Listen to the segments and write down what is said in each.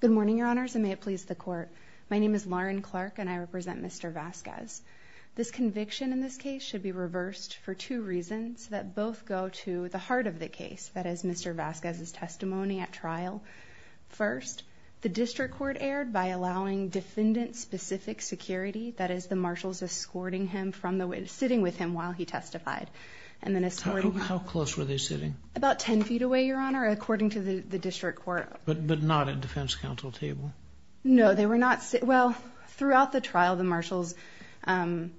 Good morning your honors and may it please the court. My name is Lauren Clark and I represent Mr. Vasquez. This conviction in this case should be reversed for two reasons that both go to the heart of the case, that is Mr. Vasquez's testimony at trial. First, the district court erred by allowing defendant-specific security, that is the marshals escorting him from the way sitting with him while he testified. And then how close were they sitting? About 10 feet away your honor, according to the district court. But not at defense counsel table? No, they were not. Well, throughout the trial the marshals, in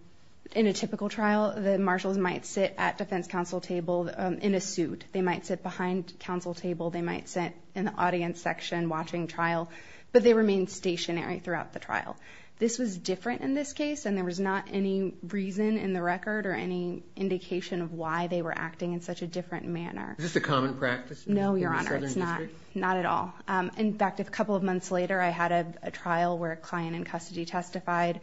a typical trial, the marshals might sit at defense counsel table in a suit. They might sit behind counsel table, they might sit in the audience section watching trial, but they remain stationary throughout the trial. This was different in this case and there was not any reason in the record or any indication of why they were acting in such a different manner. Is this a common practice? No your honor, it's not, not at all. In fact, a couple of months later I had a trial where a client in custody testified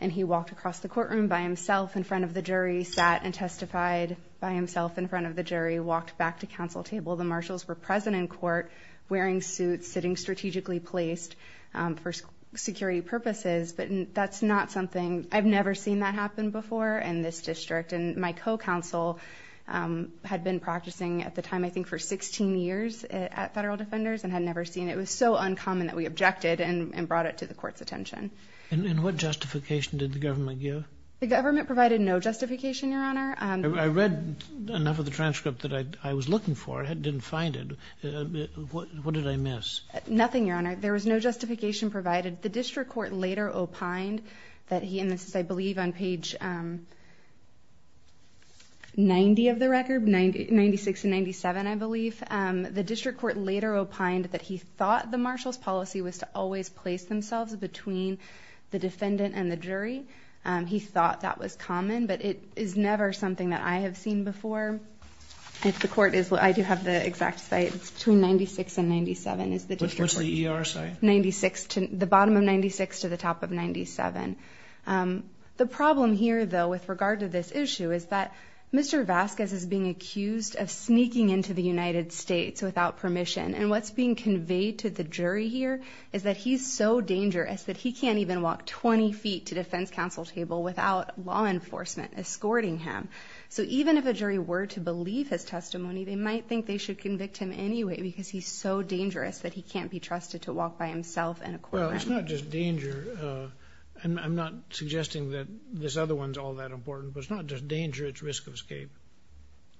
and he walked across the courtroom by himself in front of the jury, sat and testified by himself in front of the jury, walked back to counsel table. The marshals were present in court wearing suits, sitting strategically placed for security purposes, but that's not something, I've never seen that happen before in this district and my co-counsel had been practicing at the time I think for 16 years at Federal Defenders and had never seen it. It was so uncommon that we objected and brought it to the court's attention. And what justification did the government give? The government provided no justification your honor. I read enough of the transcript that I was looking for, I didn't find it. What did I miss? Nothing your honor, there was no justification provided. The district court later opined that he, and this is I believe on page 90 of the record, 96 and 97 I believe, the district court later opined that he thought the marshal's policy was to always place themselves between the defendant and the jury. He thought that was common but it is never something that I have seen before. If the court is, I do have the exact site, it's between 96 and 97 is the ER site. 96 to the bottom of 96 to the top of 97. The problem here though with regard to this issue is that Mr. Vasquez is being accused of sneaking into the United States without permission and what's being conveyed to the jury here is that he's so dangerous that he can't even walk 20 feet to defense counsel table without law enforcement escorting him. So even if a jury were to believe his testimony they might think they should convict him anyway because he's so dangerous that he can't be trusted to walk by himself in a courtroom. Well it's not just danger, and I'm not suggesting that this other one's all that important, but it's not just danger it's risk of escape.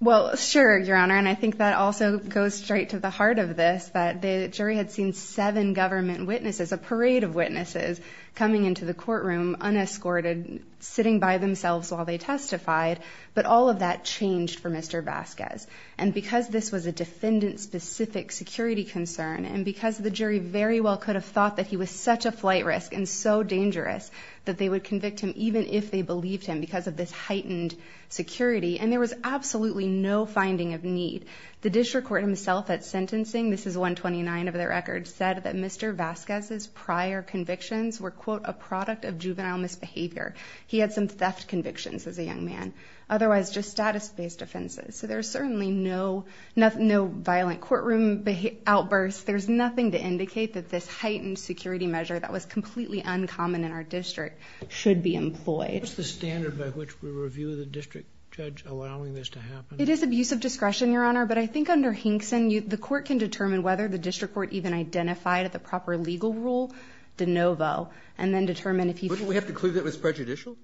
Well sure your honor and I think that also goes straight to the heart of this that the jury had seen seven government witnesses, a parade of witnesses, coming into the courtroom unescorted, sitting by themselves while they testified, but all of that changed for Mr. Vasquez and because this was a defendant specific security concern and because the jury very well could have thought that he was such a flight risk and so dangerous that they would convict him even if they believed him because of this heightened security and there was absolutely no finding of need. The district court himself at sentencing, this is 129 of their records, said that Mr. Vasquez's prior convictions were quote a product of juvenile misbehavior. He had some theft convictions as a young man, otherwise just status-based offenses. So there's certainly no violent courtroom outbursts. There's nothing to indicate that this heightened security measure that was completely uncommon in our district should be employed. What's the standard by which we review the district judge allowing this to happen? It is abuse of discretion your honor, but I think under Hinkson the court can determine whether the district court even identified at the proper legal rule de novo and then determine if he... Wouldn't we have to conclude that was prejudicial?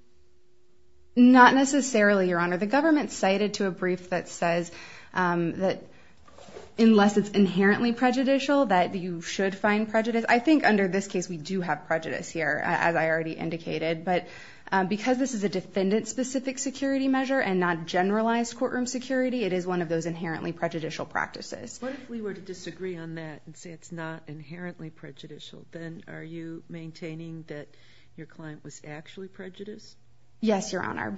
Not necessarily your honor. The government cited to a brief that says that unless it's inherently prejudicial that you should find prejudice. I think under this case we do have prejudice here as I already indicated, but because this is a defendant-specific security measure and not generalized courtroom security, it is one of those inherently prejudicial practices. What if we were to disagree on that and say it's not inherently prejudicial? Then are you maintaining that your client was actually prejudiced? Yes your honor.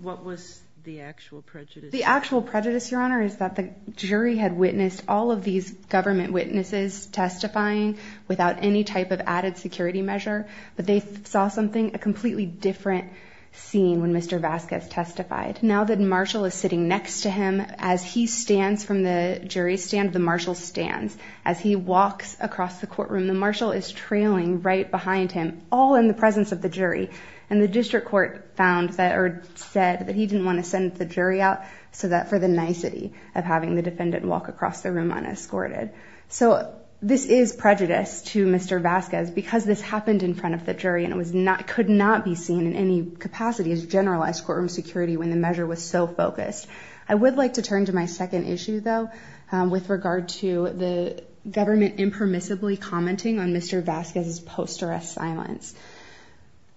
What was the actual prejudice? The actual prejudice your honor is that the jury had witnessed all of these government witnesses testifying without any type of added security measure, but they saw something a completely different scene when Mr. Vasquez testified. Now that Marshall is sitting next to him, as he stands from the jury stand, the Marshall stands. As he walks across the courtroom, the Marshall is trailing right behind him all in the courtroom. Mr. Vasquez, however, said that he didn't want to send the jury out so that for the nicety of having the defendant walk across the room unescorted. So this is prejudice to Mr. Vasquez because this happened in front of the jury and it could not be seen in any capacity as generalized courtroom security when the measure was so focused. I would like to turn to my second issue though with regard to the government impermissibly commenting on Mr. Vasquez's post-arrest silence.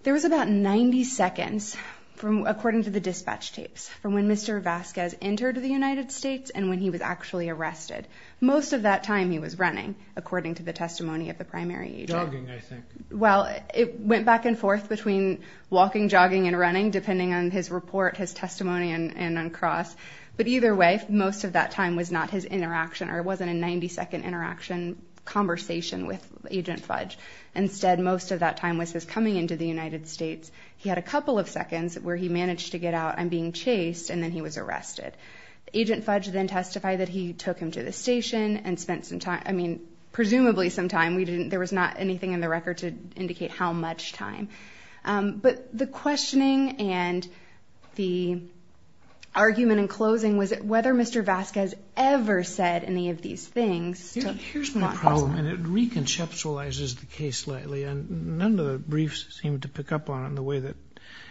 There was about 90 seconds from according to the dispatch tapes from when Mr. Vasquez entered the United States and when he was actually arrested. Most of that time he was running according to the testimony of the primary agent. Well it went back and forth between walking jogging and running depending on his report, his testimony, and on cross, but either way most of that time was not his interaction or it wasn't a 90-second interaction conversation with Agent Fudge. Instead most of that time was his coming into the United States. He had a couple of seconds where he managed to get out and being chased and then he was arrested. Agent Fudge then testified that he took him to the station and spent some time, I mean presumably some time, we didn't, there was not anything in the record to indicate how much time. But the questioning and the argument in closing was whether Mr. Vasquez ever said any of these things. Here's my problem and it reconceptualizes the case slightly and none of the briefs seem to pick up on it in the way that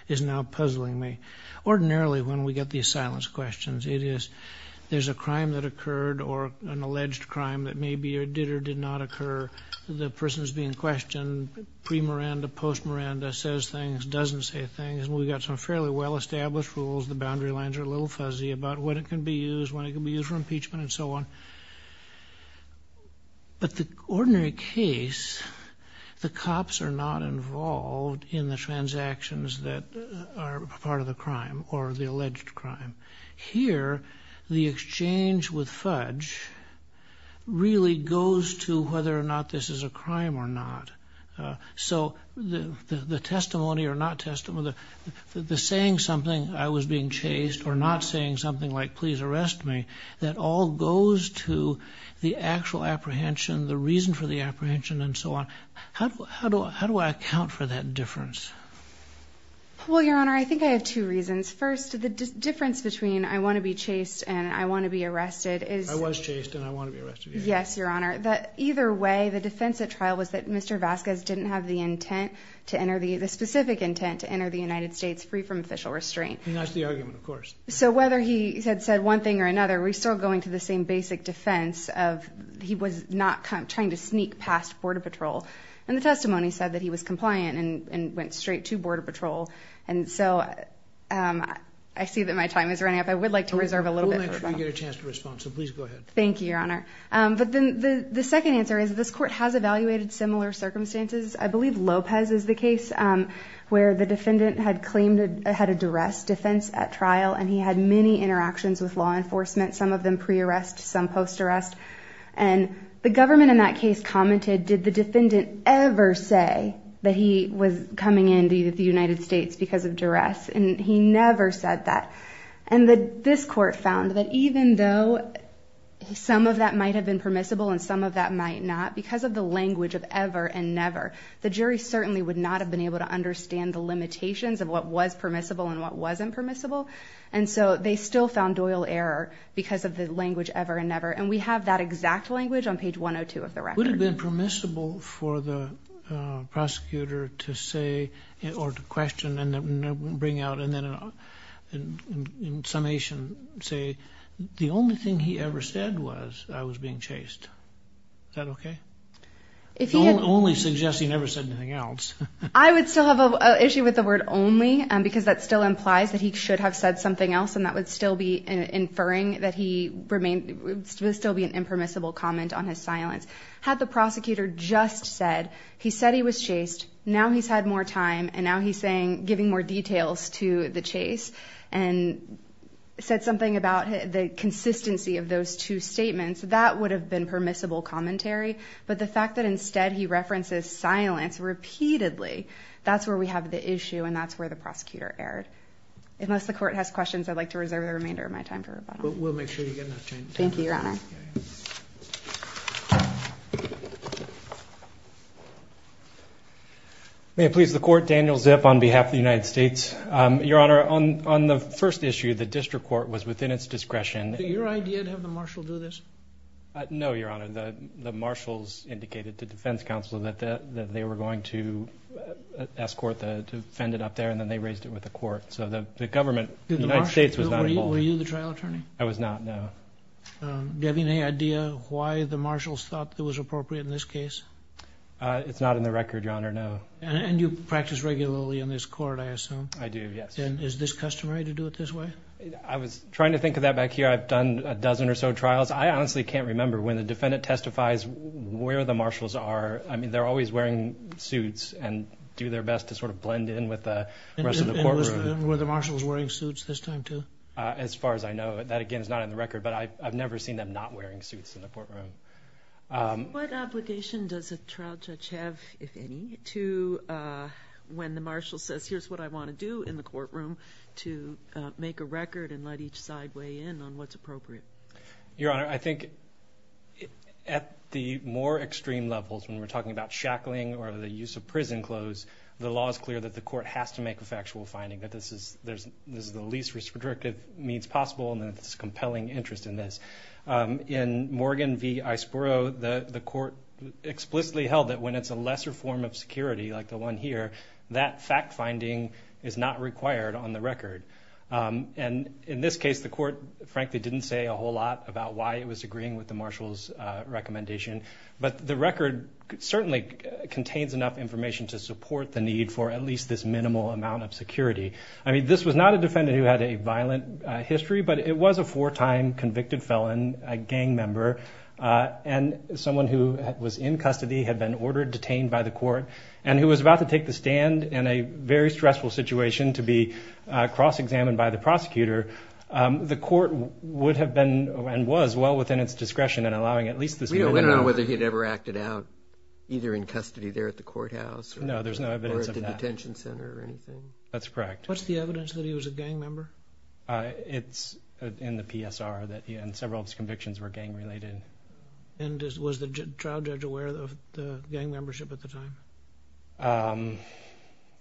is now puzzling me. Ordinarily when we get these silence questions it is there's a crime that occurred or an alleged crime that may be or did or did not occur, the person is being questioned, pre-Miranda, post-Miranda, says things, doesn't say things, and we've got some fairly well-established rules, the boundary lines are a little fuzzy about what it can be used, when it can be used for but the ordinary case, the cops are not involved in the transactions that are part of the crime or the alleged crime. Here the exchange with Fudge really goes to whether or not this is a crime or not. So the testimony or not testimony, the saying something, I was being chased or not saying something like please arrest me, that all goes to the actual apprehension, the reason for the apprehension and so on. How do I account for that difference? Well your honor I think I have two reasons. First the difference between I want to be chased and I want to be arrested. I was chased and I want to be arrested. Yes your honor, that either way the defense at trial was that Mr. Vasquez didn't have the intent to enter, the specific intent to enter the United States free from official restraint. That's the argument of course. So whether he had said one thing or another, we're still going to the same basic defense of he was not trying to sneak past Border Patrol and the testimony said that he was compliant and went straight to Border Patrol and so I see that my time is running up. I would like to reserve a little bit. We'll let you get a chance to respond, so please go ahead. Thank you your honor, but then the second answer is this court has evaluated similar circumstances. I believe Lopez is the case where the defendant had a duress defense at trial and he had many interactions with law enforcement, some of them pre-arrest, some post-arrest and the government in that case commented did the defendant ever say that he was coming into the United States because of duress and he never said that and that this court found that even though some of that might have been permissible and some of that might not, because of the language of ever and never, the jury certainly would not have been able to understand the limitations of what was permissible and what wasn't permissible and so they still found doyle error because of the language ever and never and we have that exact language on page 102 of the record. Would it have been permissible for the prosecutor to say or to question and then bring out and then in summation say the only thing he ever said was I was being chased. Is that okay? Don't only suggest he never said anything else. I would still have an issue with the word only and because that still implies that he should have said something else and that would still be inferring that he remained still be an impermissible comment on his silence. Had the prosecutor just said he said he was chased now he's had more time and now he's saying giving more details to the chase and said something about the consistency of those two statements that would have been permissible commentary but the fact that instead he references silence repeatedly that's where we have the issue and that's where the prosecutor erred. Unless the court has questions I'd like to reserve the remainder of my time to rebut. We'll make sure you get enough time. Thank you your honor. May it please the court Daniel Zip on behalf of the United States. Your honor on on the first issue the district court was within its discretion. Your idea to have the marshal do this? No your honor the the marshals indicated to defense counsel that that they were going to escort the defendant up there and then they raised it with the court so the government United States was not involved. Were you the trial attorney? I was not no. Do you have any idea why the marshals thought that was appropriate in this case? It's not in the record your honor no. And you practice regularly in this court I assume? I do yes. And is this customary to do it this way? I was trying to think of that back here I've done a dozen or so trials I honestly can't remember when the defendant testifies where the marshals are I mean they're always wearing suits and do their best to sort of blend in with the rest of the courtroom. Were the marshals wearing suits this time too? As far as I know that again is not in the record but I've never seen them not wearing suits in the courtroom. What obligation does a trial judge have if any to when the record and let each side weigh in on what's appropriate? Your honor I think at the more extreme levels when we're talking about shackling or the use of prison clothes the law is clear that the court has to make a factual finding that this is there's this is the least restrictive means possible and it's compelling interest in this. In Morgan v. Iceboro the the court explicitly held that when it's a lesser form of security like the one here that fact-finding is not required on the record and in this case the court frankly didn't say a whole lot about why it was agreeing with the marshals recommendation but the record certainly contains enough information to support the need for at least this minimal amount of security. I mean this was not a defendant who had a violent history but it was a four-time convicted felon a gang member and someone who was in custody had been ordered detained by the court and who was about to take the stand in a very stressful situation to be cross-examined by the prosecutor the court would have been and was well within its discretion and allowing at least this. We don't know whether he'd ever acted out either in custody there at the courthouse. No there's no evidence of that. Or at the detention center or anything. That's correct. What's the evidence that he was a gang member? It's in the PSR that he and several of his convictions were gang-related. And was the trial judge aware of the gang membership at the time?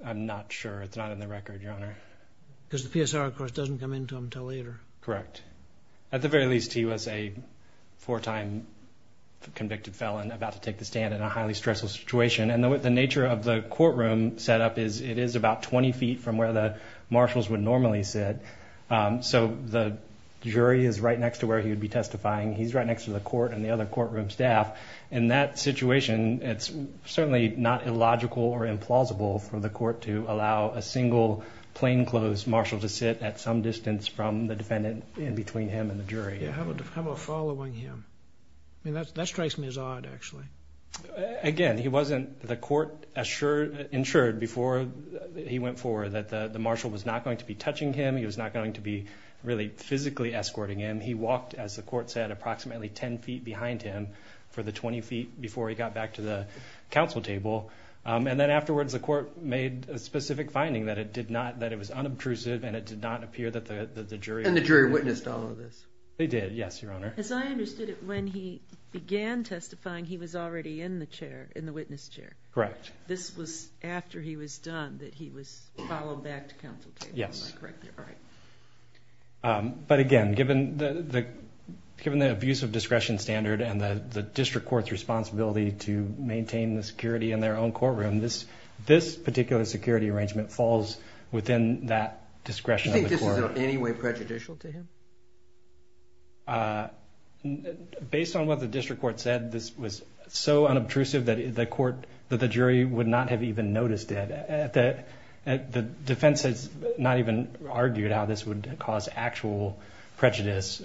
I'm not sure it's not in the record your honor. Because the PSR of course doesn't come into him until later. Correct. At the very least he was a four-time convicted felon about to take the stand in a highly stressful situation and the nature of the courtroom setup is it is about 20 feet from where the marshals would normally sit so the jury is right next to where he would be testifying he's right next to the court and the situation it's certainly not illogical or implausible for the court to allow a single plainclothes marshal to sit at some distance from the defendant in between him and the jury. How about following him? That strikes me as odd actually. Again he wasn't the court assured before he went forward that the marshal was not going to be touching him he was not going to be really physically escorting him he walked as the court said approximately 10 feet behind him for the 20 feet before he got back to the counsel table and then afterwards the court made a specific finding that it did not that it was unobtrusive and it did not appear that the jury. And the jury witnessed all of this? They did yes your honor. As I understood it when he began testifying he was already in the chair in the witness chair. Correct. This was after he was done that he was followed back to counsel table. Yes. But again given the abuse of discretion standard and the district court's responsibility to maintain the security in their own courtroom this this particular security arrangement falls within that discretion. Do you think this is in any way prejudicial to him? Based on what the district court said this was so unobtrusive that the court that the jury would not have even noticed it at that the defense has not even argued how this would cause actual prejudice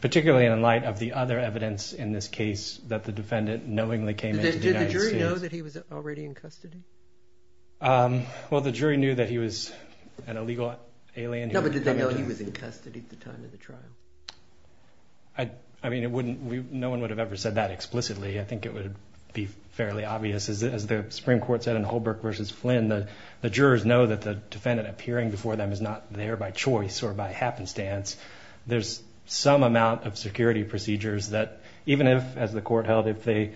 particularly in light of the other evidence in this case that the defendant knowingly came in. Did the jury know that he was already in custody? Well the jury knew that he was an illegal alien. No but did they know he was in custody at the time of the trial? I mean it wouldn't we no one would have ever said that explicitly I think it would be fairly obvious as the Supreme Court said in Holbrook versus Flynn that the jurors know that the defendant appearing before them is not there by choice or by happenstance. There's some amount of security procedures that even if as the court held if they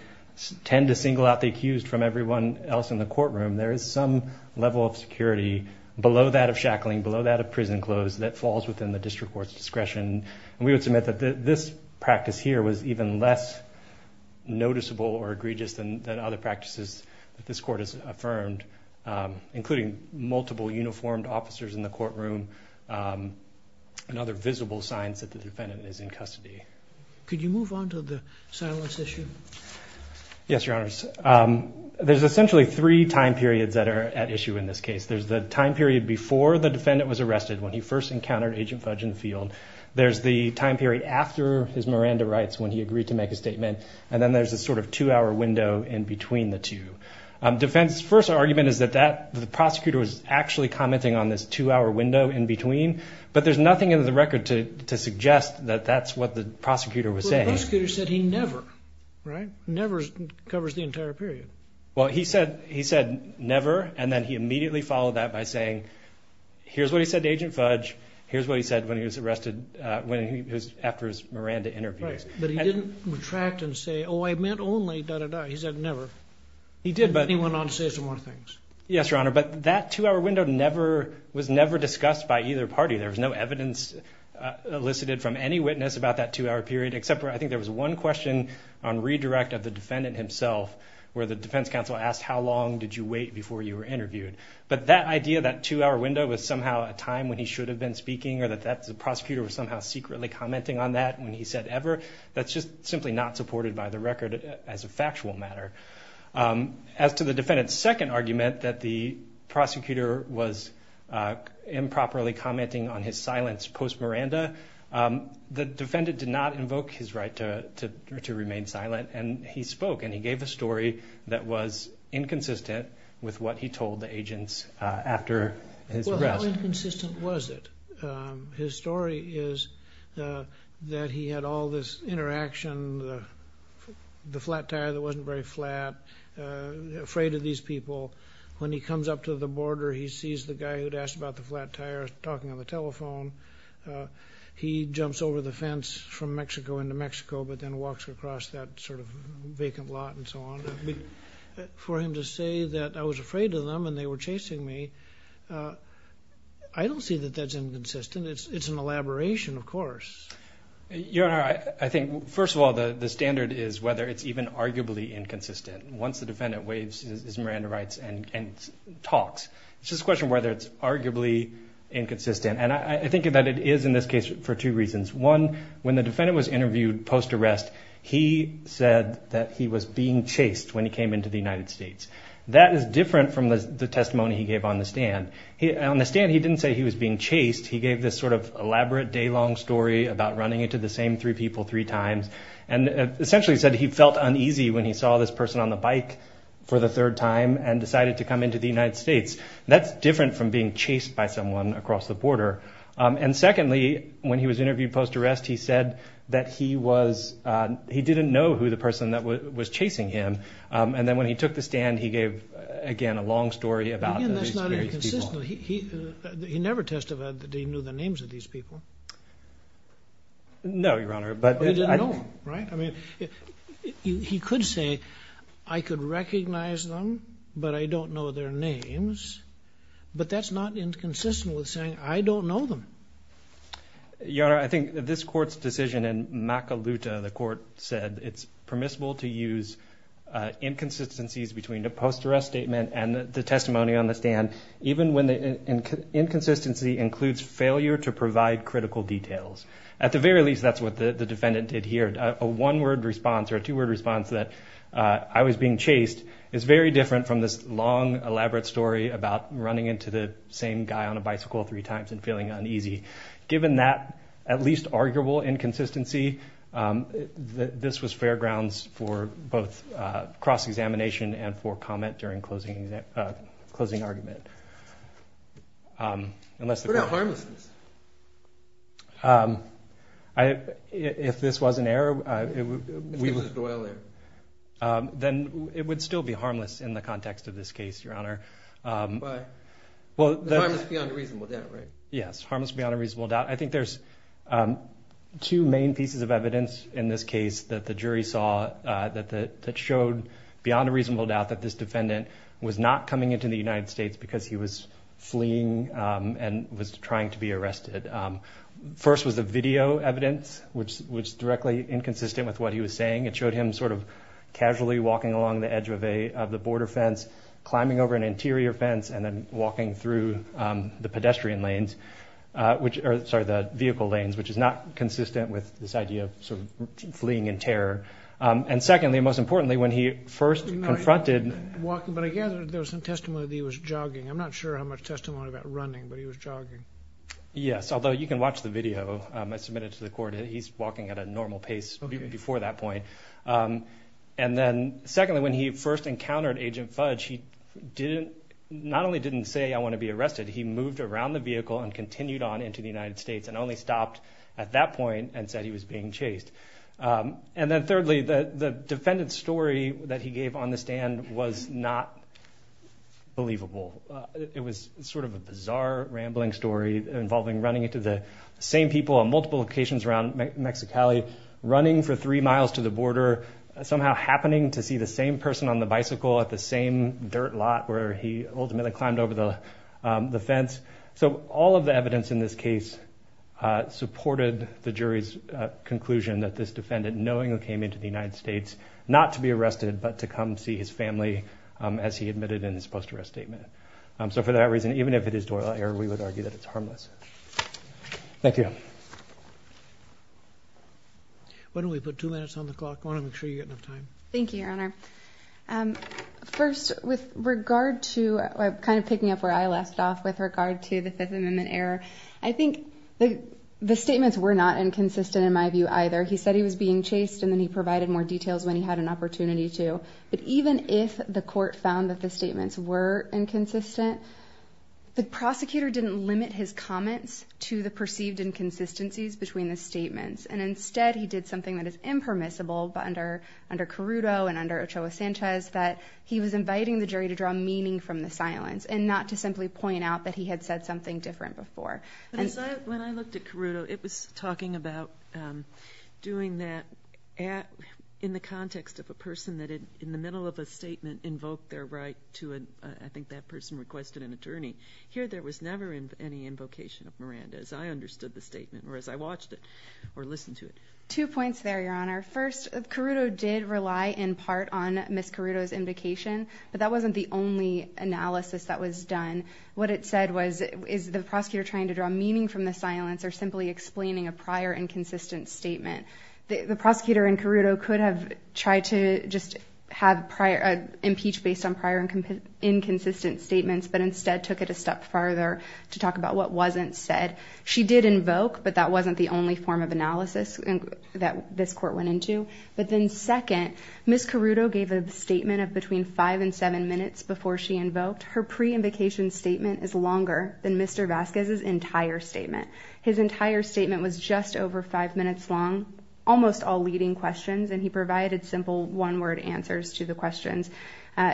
tend to single out the accused from everyone else in the courtroom there is some level of security below that of shackling below that of prison clothes that falls within the district court's discretion. We would submit that this practice here was even less noticeable or egregious than other practices that this court has affirmed including multiple uniformed officers in the courtroom and other visible signs that the defendant is in custody. Could you move on to the silence issue? Yes your honors. There's essentially three time periods that are at issue in this case. There's the time period before the defendant was arrested when he first encountered Agent Fudge and Field. There's the time period after his Miranda rights when he agreed to make a statement and then there's a sort of two-hour window in between the two. Defense's first argument is that that the prosecutor was actually commenting on this two-hour window in between but there's nothing in the record to suggest that that's what the prosecutor was saying. The prosecutor said he never, right, never covers the entire period. Well he said he said never and then he immediately followed that by saying here's what he said to Agent Fudge, here's what he said when he was arrested when he was after his Miranda interviews. But he didn't retract and say oh I meant only da da da. He said never. He did but he went on to say more things. Yes your honor but that two-hour window never was never discussed by either party. There was no evidence elicited from any witness about that two-hour period except for I think there was one question on redirect of the defendant himself where the defense counsel asked how long did you wait before you were interviewed. But that idea that two-hour window was somehow a time when he should have been speaking or that that's the prosecutor was somehow secretly commenting on that when he said ever, that's just simply not argument that the prosecutor was improperly commenting on his silence post-Miranda. The defendant did not invoke his right to remain silent and he spoke and he gave a story that was inconsistent with what he told the agents after his arrest. How inconsistent was it? His story is that he had all this interaction, the flat tire that wasn't very flat, afraid of these people. When he comes up to the border he sees the guy who'd asked about the flat tire talking on the telephone. He jumps over the fence from Mexico into Mexico but then walks across that sort of vacant lot and so on. For him to say that I was afraid of them and they were chasing me, I don't see that that's inconsistent. It's an elaboration of course. I think first of all the the standard is whether it's even arguably inconsistent. Once the defendant waves his Miranda rights and talks. It's just a question whether it's arguably inconsistent and I think that it is in this case for two reasons. One, when the defendant was interviewed post arrest he said that he was being chased when he came into the United States. That is different from the testimony he gave on the stand. On the stand he didn't say he was being chased. He gave this sort of elaborate day-long story about running into the same three people three times and essentially said he felt uneasy when he saw this person on the bike for the third time and decided to come into the United States. That's different from being chased by someone across the border and secondly when he was interviewed post arrest he said that he was he didn't know who the person that was chasing him and then when he the stand he gave again a long story about he never testified that he knew the names of these people. No your honor but I don't know right I mean he could say I could recognize them but I don't know their names but that's not inconsistent with saying I don't know them. Your honor I think this court's decision in Makaluta the court said it's permissible to use inconsistencies between the post-arrest statement and the testimony on the stand even when the inconsistency includes failure to provide critical details. At the very least that's what the defendant did here. A one-word response or a two-word response that I was being chased is very different from this long elaborate story about running into the same guy on a bicycle three times and feeling uneasy. Given that at least arguable inconsistency that this was fair examination and for comment during closing argument. What about harmlessness? If this was an error then it would still be harmless in the context of this case your honor. But harmless beyond a reasonable doubt right? Yes harmless beyond a reasonable doubt. I think there's two main pieces of evidence in this case that the jury saw that that showed beyond a reasonable doubt that this defendant was not coming into the United States because he was fleeing and was trying to be arrested. First was the video evidence which was directly inconsistent with what he was saying. It showed him sort of casually walking along the edge of a of the border fence climbing over an interior fence and then walking through the pedestrian lanes which are the vehicle lanes which is not consistent with this idea of sort of importantly when he first confronted. But I gather there was some testimony that he was jogging. I'm not sure how much testimony about running but he was jogging. Yes although you can watch the video I submitted to the court. He's walking at a normal pace before that point. And then secondly when he first encountered Agent Fudge he didn't not only didn't say I want to be arrested he moved around the vehicle and continued on into the United States and only stopped at that point and said he was being chased. And then thirdly the defendant's story that he gave on the stand was not believable. It was sort of a bizarre rambling story involving running into the same people on multiple locations around Mexicali running for three miles to the border somehow happening to see the same person on the bicycle at the same dirt lot where he ultimately climbed over the the fence. So all of the evidence in this case supported the jury's conclusion that this defendant knowing who came into the United States not to be arrested but to come see his family as he admitted in his post arrest statement. So for that reason even if it is Doyle error we would argue that it's harmless. Thank you. Why don't we put two minutes on the clock? I want to make sure you get enough time. Thank you your honor. First with regard to kind of picking up where I left off with regard to the Fifth Amendment error I think the the statements were not inconsistent in my view either. He said he was being chased and then he provided more details when he had an opportunity to. But even if the court found that the statements were inconsistent the prosecutor didn't limit his comments to the perceived inconsistencies between the statements and instead he did something that is impermissible but under under Carrudo and under Ochoa Sanchez that he was inviting the jury to draw meaning from the silence and not to simply point out that he had said something different before. When I looked at Carrudo it was talking about doing that at in the context of a person that in the middle of a statement invoked their right to an I think that person requested an attorney. Here there was never in any invocation of Miranda as I understood the statement or as I watched it or listened to it. Two points there your honor. First Carrudo did rely in part on Miss Carrudo's indication but that wasn't the only analysis that was done. What it said was is the prosecutor trying to draw meaning from the silence or simply explaining a prior inconsistent statement. The prosecutor in Carrudo could have tried to just have prior impeach based on prior and inconsistent statements but instead took it a step farther to talk about what wasn't said. She did invoke but that wasn't the only form of analysis and that this court went into. But then second Miss Carrudo gave a statement of between five and seven minutes before she invoked. Her pre-invocation statement is longer than Mr. Vasquez's entire statement. His entire statement was just over five minutes long. Almost all leading questions and he provided simple one-word answers to the questions.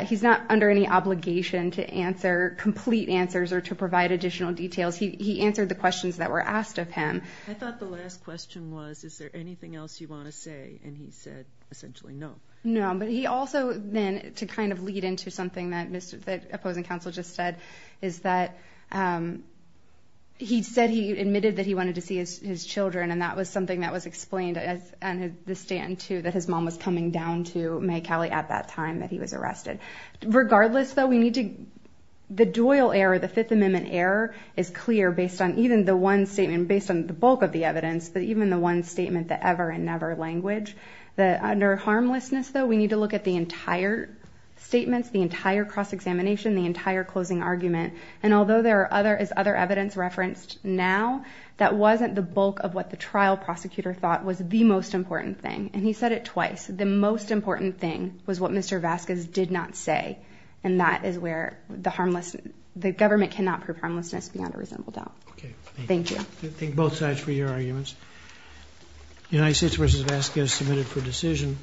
He's not under any obligation to answer complete answers or to provide additional details. He answered the questions that were asked of him. I thought the last question was is there anything else you want to say and he said essentially no. No but he also then to kind of lead into something that Mr. Vasquez said, that opposing counsel just said, is that he said he admitted that he wanted to see his children and that was something that was explained as the stand to that his mom was coming down to May Cali at that time that he was arrested. Regardless though we need to, the Doyle error, the Fifth Amendment error is clear based on even the one statement based on the bulk of the evidence but even the one statement that ever and never language. That under harmlessness though we need to look at the entire statements, the entire cross-examination, the entire closing argument and although there are other as other evidence referenced now, that wasn't the bulk of what the trial prosecutor thought was the most important thing and he said it twice. The most important thing was what Mr. Vasquez did not say and that is where the harmless, the government cannot prove harmlessness beyond a reasonable doubt. Thank you. I think both